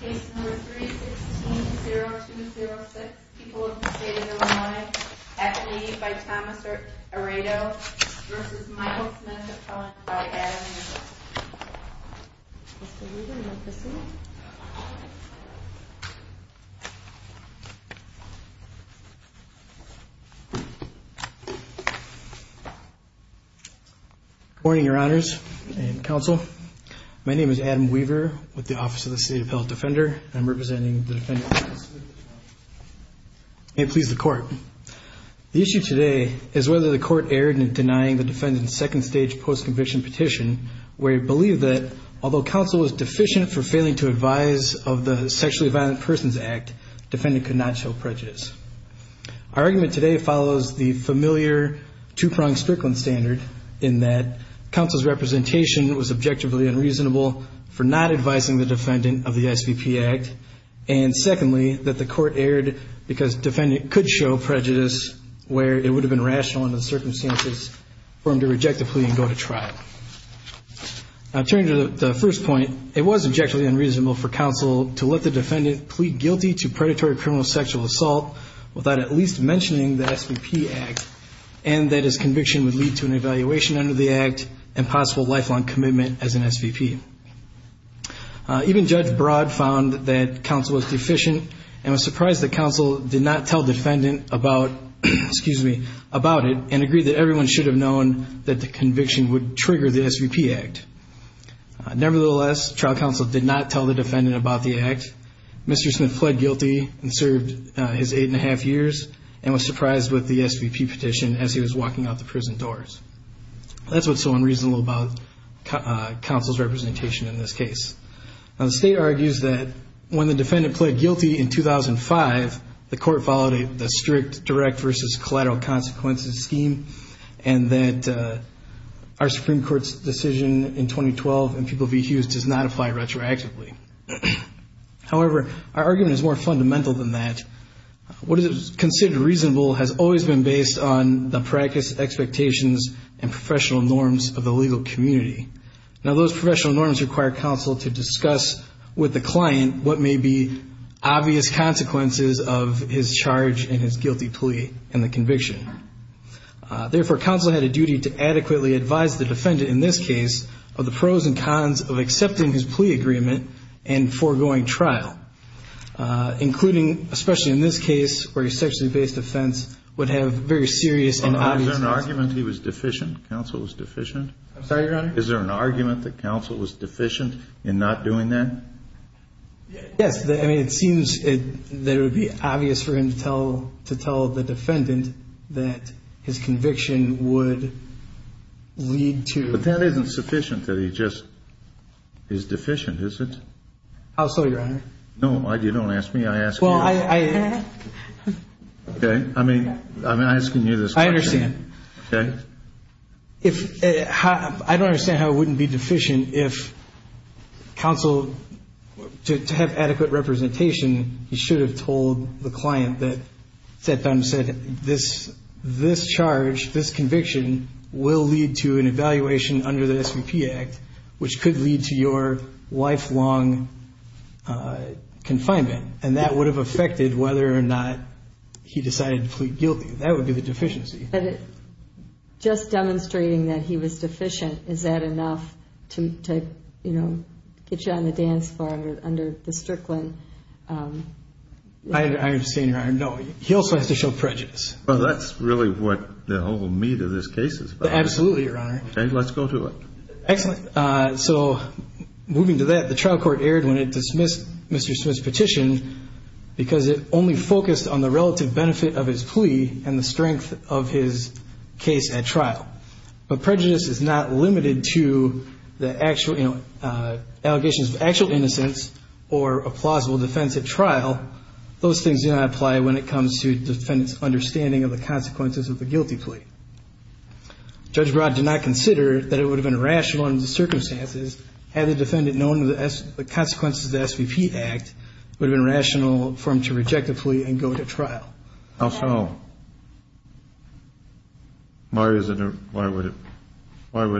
Case number 3-16-0206, People of the State of Illinois at the lead by Thomas Aredo v. Michael Smith, a felon by Adam Weaver. Mr. Weaver, you want this one? Good morning, Your Honors and Counsel. My name is Adam Weaver with the Office of the State Appellate Defender. I'm representing the defendant's case. May it please the Court. The issue today is whether the Court erred in denying the defendant's second-stage post-conviction petition where it believed that, although counsel was deficient for failing to advise of the Sexually Violent Persons Act, defendant could not show prejudice. Our argument today follows the familiar two-pronged Strickland standard in that counsel's representation was objectively unreasonable for not advising the defendant of the SVP Act, and secondly, that the Court erred because defendant could show prejudice where it would have been rational under the circumstances for him to reject the plea and go to trial. Now, turning to the first point, it was objectively unreasonable for counsel to let the defendant plead guilty to predatory criminal sexual assault without at least mentioning the SVP Act, and that his conviction would lead to an evaluation under the Act and possible lifelong commitment as an SVP. Even Judge Broad found that counsel was deficient and was surprised that counsel did not tell defendant about it and agreed that everyone should have known that the conviction would trigger the SVP Act. Nevertheless, trial counsel did not tell the defendant about the Act. Mr. Smith fled guilty and served his eight-and-a-half years and was surprised with the SVP petition as he was walking out the prison doors. That's what's so unreasonable about counsel's representation in this case. Now, the State argues that when the defendant pled guilty in 2005, the Court followed the strict direct versus collateral consequences scheme and that our Supreme Court's decision in 2012 in People v. Hughes does not apply retroactively. However, our argument is more fundamental than that. What is considered reasonable has always been based on the practice, expectations, and professional norms of the legal community. Now, those professional norms require counsel to discuss with the client what may be obvious consequences of his charge and his guilty plea and the conviction. Therefore, counsel had a duty to adequately advise the defendant in this case of the pros and cons of accepting his plea agreement and foregoing trial, including especially in this case where his sexually based offense would have very serious and obvious consequences. Well, is there an argument he was deficient, counsel was deficient? I'm sorry, Your Honor? Is there an argument that counsel was deficient in not doing that? Yes. I mean, it seems that it would be obvious for him to tell the defendant that his conviction would lead to... But that isn't sufficient that he just is deficient, is it? I'll slow you, Your Honor. No, you don't ask me. I ask you. Well, I... Okay. I mean, I'm asking you this question. I understand. Okay. But if... I don't understand how it wouldn't be deficient if counsel, to have adequate representation, he should have told the client that Seth Dunn said, this charge, this conviction will lead to an evaluation under the SVP Act, which could lead to your lifelong confinement. And that would have affected whether or not he decided to plead guilty. That would be the deficiency. But just demonstrating that he was deficient, is that enough to, you know, get you on the dance floor under the Strickland? I understand, Your Honor. No, he also has to show prejudice. Well, that's really what the whole meat of this case is about. Absolutely, Your Honor. Okay. Let's go to it. Excellent. So moving to that, the trial court erred when it dismissed Mr. Smith's petition because it only focused on the relative benefit of his plea and the strength of his case at trial. But prejudice is not limited to allegations of actual innocence or a plausible defense at trial. Those things do not apply when it comes to the defendant's understanding of the consequences of the guilty plea. Judge Broad did not consider that it would have been rational under the circumstances had the defendant known the consequences of the SVP Act would have been rational for him to reject the plea and go to trial. How so? Why would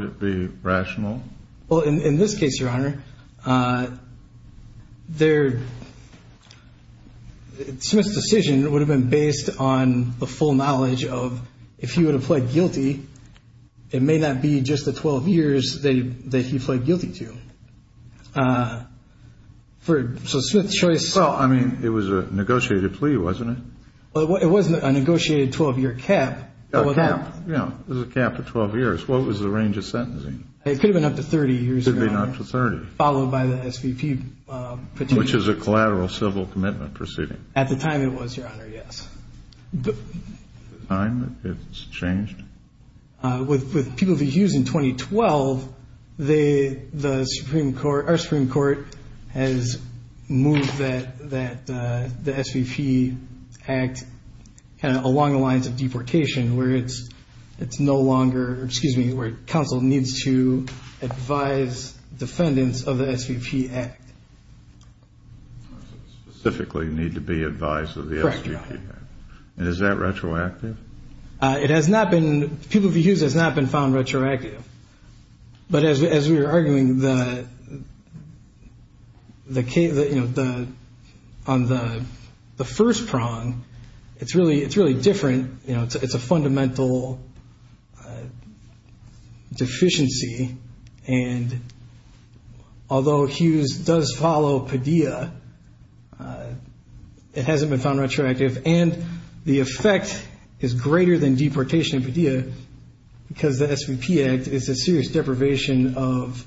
it be rational? Well, in this case, Your Honor, Smith's decision would have been based on the full knowledge of if he would have pled guilty, it may not be just the 12 years that he pled guilty to. So Smith's choice. Well, I mean, it was a negotiated plea, wasn't it? Well, it wasn't a negotiated 12-year cap. A cap, yeah. It was a cap of 12 years. What was the range of sentencing? It could have been up to 30 years, Your Honor. It could have been up to 30. Followed by the SVP petition. Which is a collateral civil commitment proceeding. At the time it was, Your Honor, yes. The time that it's changed? With people to use in 2012, the Supreme Court, our Supreme Court, has moved that the SVP Act along the lines of deportation, where it's no longer, excuse me, where counsel needs to advise defendants of the SVP Act. Specifically need to be advised of the SVP Act. Correct, Your Honor. And is that retroactive? It has not been. People v. Hughes has not been found retroactive. But as we were arguing, on the first prong, it's really different. It's a fundamental deficiency. And although Hughes does follow Padilla, it hasn't been found retroactive. And the effect is greater than deportation in Padilla because the SVP Act is a serious deprivation of,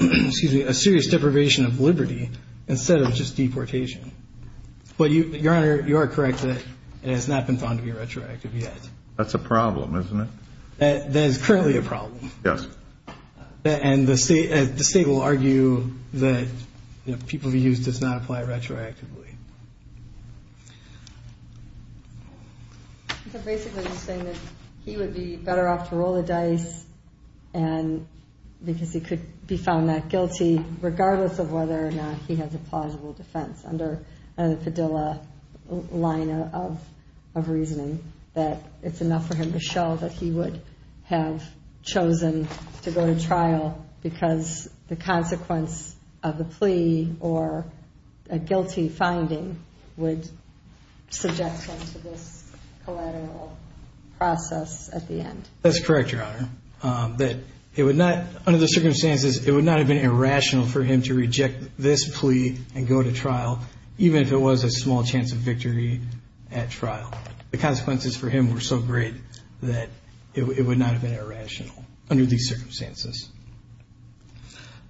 excuse me, a serious deprivation of liberty instead of just deportation. But, Your Honor, you are correct that it has not been found to be retroactive yet. That's a problem, isn't it? That is currently a problem. Yes. And the state will argue that people v. Hughes does not apply retroactively. So basically he's saying that he would be better off to roll the dice because he could be found not guilty, regardless of whether or not he has a plausible defense under the Padilla line of reasoning, that it's enough for him to show that he would have chosen to go to trial because the consequence of the plea or a guilty finding would subject him to this collateral process at the end. That's correct, Your Honor, that it would not, under the circumstances, it would not have been irrational for him to reject this plea and go to trial, even if it was a small chance of victory at trial. The consequences for him were so great that it would not have been irrational under these circumstances.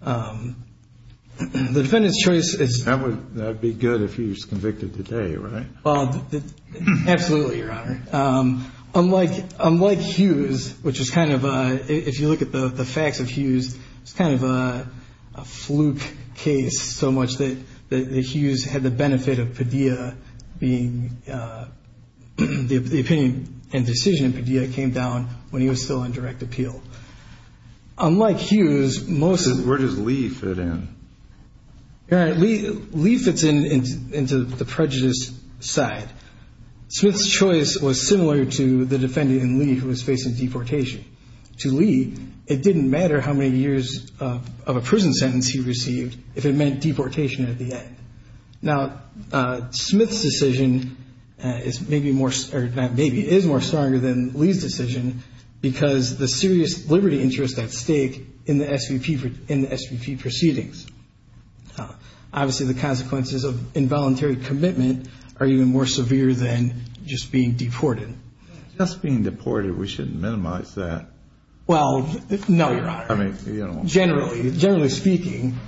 The defendant's choice is. That would be good if he was convicted today, right? Absolutely, Your Honor. Unlike Hughes, which is kind of a, if you look at the facts of Hughes, it's kind of a fluke case so much that Hughes had the benefit of Padilla being, the opinion and decision of Padilla came down when he was still on direct appeal. Unlike Hughes, most of. Where does Lee fit in? All right, Lee fits into the prejudice side. Smith's choice was similar to the defendant in Lee who was facing deportation. To Lee, it didn't matter how many years of a prison sentence he received if it meant deportation at the end. Now, Smith's decision is maybe more, or maybe is more stronger than Lee's decision because the serious liberty interest at stake in the SVP proceedings. Obviously, the consequences of involuntary commitment are even more severe than just being deported. Just being deported, we shouldn't minimize that. Well, no, Your Honor. Generally, generally speaking.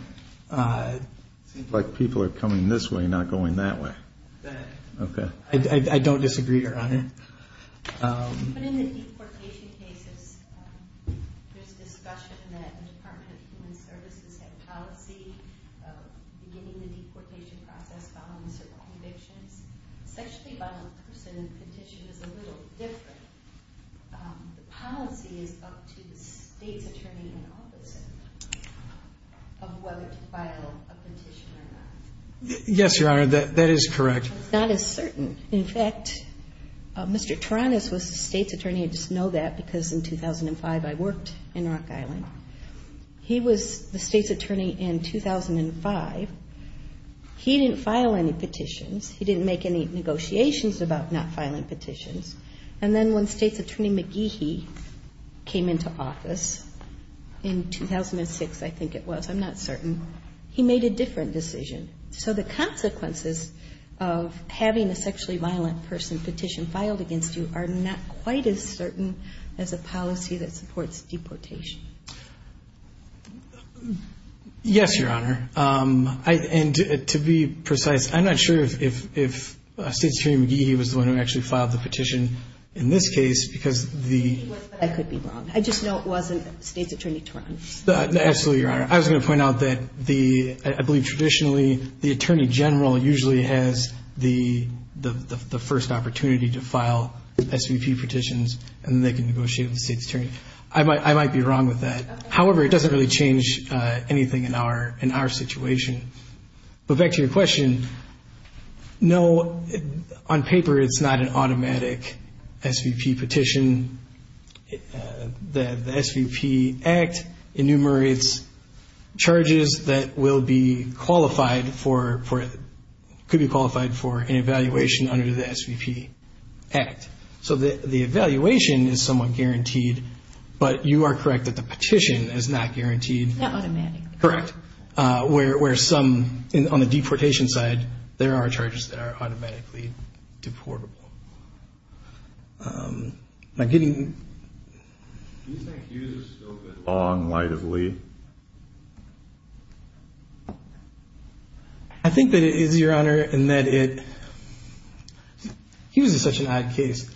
It seems like people are coming this way, not going that way. I don't disagree, Your Honor. But in the deportation cases, there's discussion that the Department of Human Services had a policy of beginning the deportation process following certain convictions. Sexually violent person petition is a little different. The policy is up to the state's attorney in office of whether to file a petition or not. Yes, Your Honor, that is correct. I'm not as certain. In fact, Mr. Taranis was the state's attorney. I just know that because in 2005 I worked in Rock Island. He was the state's attorney in 2005. He didn't file any petitions. He didn't make any negotiations about not filing petitions. And then when state's attorney McGehee came into office in 2006, I think it was, I'm not certain, he made a different decision. So the consequences of having a sexually violent person petition filed against you are not quite as certain as a policy that supports deportation. Yes, Your Honor, and to be precise, I'm not sure if state's attorney McGehee was the one who actually filed the petition in this case because the I could be wrong. I just know it wasn't state's attorney Taranis. Absolutely, Your Honor. I was going to point out that I believe traditionally the attorney general usually has the first opportunity to file SVP petitions and then they can negotiate with the state's attorney. I might be wrong with that. However, it doesn't really change anything in our situation. But back to your question, no, on paper it's not an automatic SVP petition. The SVP Act enumerates charges that will be qualified for, could be qualified for an evaluation under the SVP Act. So the evaluation is somewhat guaranteed, but you are correct that the petition is not guaranteed. Not automatic. Correct. Where some, on the deportation side, there are charges that are automatically deportable. Now getting Do you think Hughes is still in the long light of Lee? I think that it is, Your Honor, in that it Hughes is such an odd case.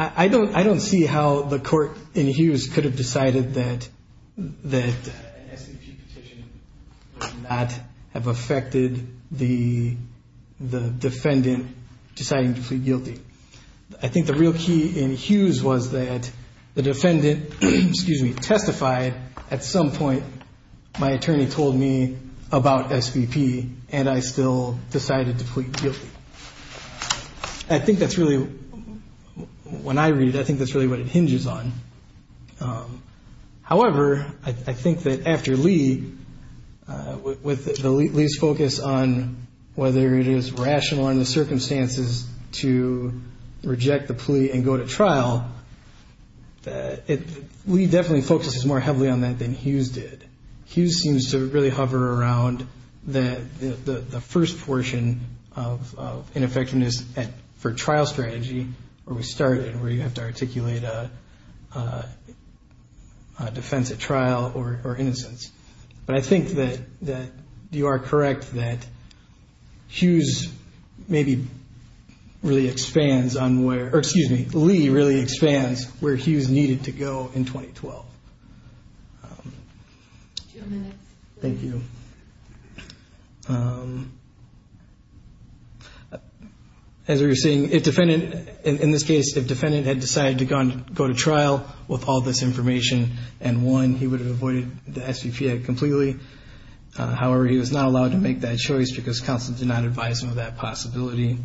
I don't see how the court in Hughes could have decided that an SVP petition would not have affected the defendant deciding to plead guilty. I think the real key in Hughes was that the defendant testified at some point, my attorney told me about SVP and I still decided to plead guilty. I think that's really, when I read it, I think that's really what it hinges on. However, I think that after Lee, with Lee's focus on whether it is rational under the circumstances to reject the plea and go to trial, Lee definitely focuses more heavily on that than Hughes did. Hughes seems to really hover around the first portion of ineffectiveness for trial strategy where we started, where you have to articulate a defense at trial or innocence. But I think that you are correct that Hughes maybe really expands on where, or excuse me, Lee really expands where Hughes needed to go in 2012. Thank you. As we were saying, if defendant, in this case, if defendant had decided to go to trial with all this information and one, he would have avoided the SVP act completely. However, he was not allowed to make that choice because counsel did not advise him of that possibility.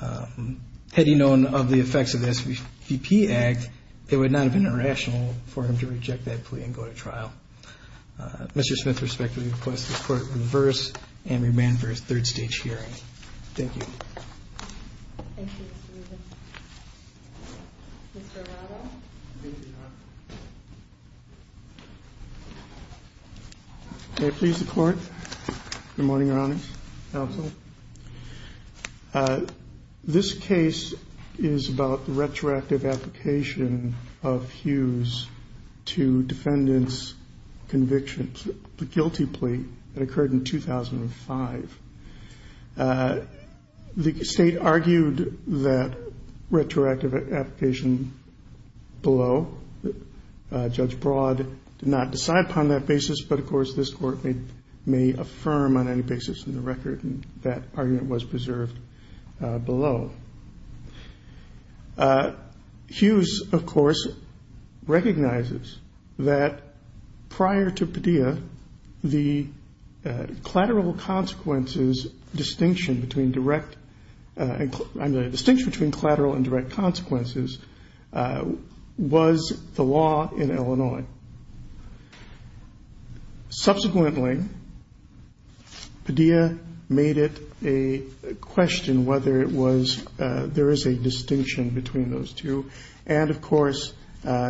Had he known of the effects of the SVP act, it would not have been rational for him to reject that plea and go to trial. Mr. Smith respectfully requests the court reverse and remand for a third stage hearing. Thank you. Thank you, Mr. Rubin. Mr. Arado. May I please report? Good morning, Your Honor. Counsel. This case is about the retroactive application of Hughes to defendant's conviction, the guilty plea that occurred in 2005. The State argued that retroactive application below. Judge Broad did not decide upon that basis. But, of course, this Court may affirm on any basis in the record that argument was preserved below. Hughes, of course, recognizes that prior to Padilla, the collateral consequences distinction between direct and the distinction between collateral and direct consequences was the law in Illinois. Subsequently, Padilla made it a question whether it was there is a distinction between those two. And, of course,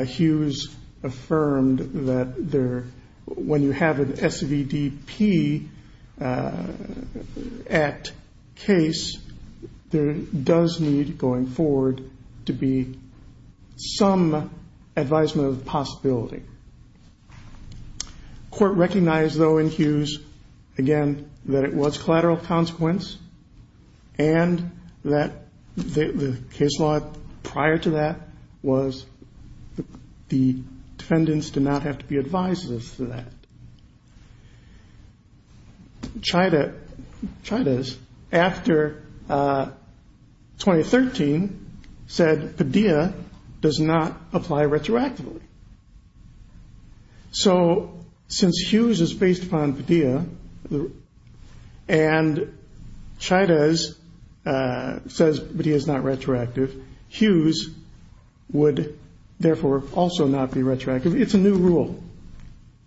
Hughes affirmed that when you have an SVDP act case, there does need going forward to be some advisement of the possibility. Court recognized, though, in Hughes, again, that it was collateral consequence, and that the case law prior to that was the defendants did not have to be advised of that. Chidas, after 2013, said Padilla does not apply retroactively. So, since Hughes is based upon Padilla, and Chidas says Padilla is not retroactive, Hughes would, therefore, also not be retroactive. It's a new rule.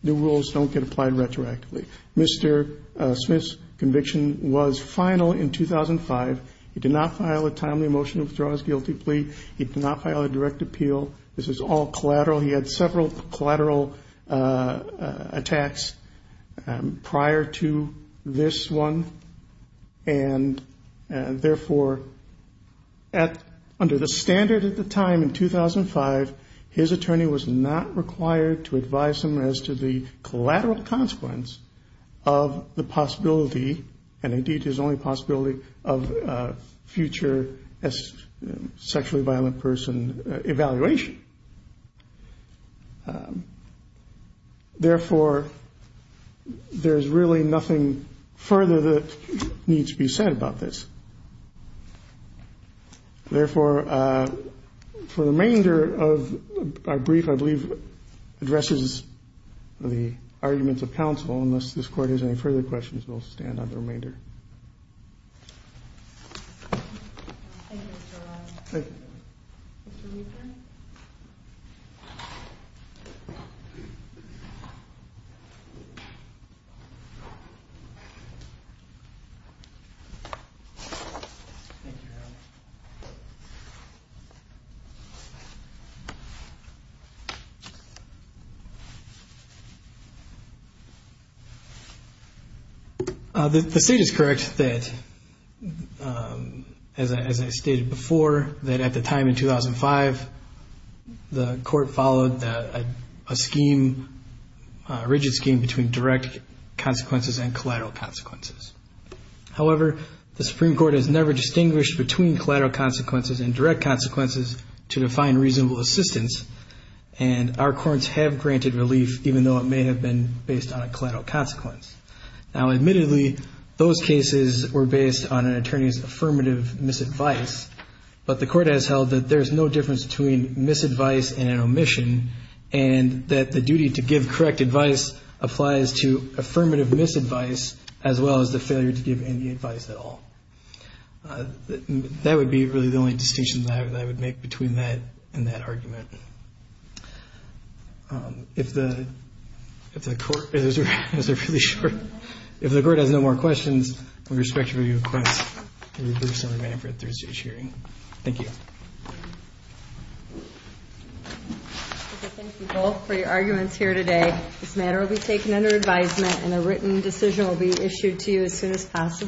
New rules don't get applied retroactively. Mr. Smith's conviction was final in 2005. He did not file a timely motion to withdraw his guilty plea. He did not file a direct appeal. This is all collateral. He had several collateral attacks prior to this one. And, therefore, under the standard at the time in 2005, his attorney was not required to advise him as to the collateral consequence of the possibility, and indeed his only possibility, of future sexually violent person evaluation. Therefore, there's really nothing further that needs to be said about this. Therefore, for the remainder of our brief, I believe, addresses the arguments of counsel. Unless this Court has any further questions, we'll stand on the remainder. Thank you, Mr. O'Rourke. Thank you, Your Honor. The State is correct that, as I stated before, that at the time in 2005, the Court followed a scheme, a rigid scheme, between direct consequences and collateral consequences. However, the Supreme Court has never distinguished between collateral consequences and direct consequences to define reasonable assistance, and our courts have granted relief, even though it may have been based on a collateral consequence. Now, admittedly, those cases were based on an attorney's affirmative misadvice, but the Court has held that there's no difference between misadvice and an omission, and that the duty to give correct advice applies to affirmative misadvice, as well as the fact that there's no difference between misadvice and an omission. There is no failure to give any advice at all. That would be really the only distinction that I would make between that and that argument. If the Court has no more questions, I respectfully request to resume our meeting for Thursday's hearing. Thank you. Thank you both for your arguments here today. This matter will be taken under advisement and a written decision will be issued to you as soon as possible.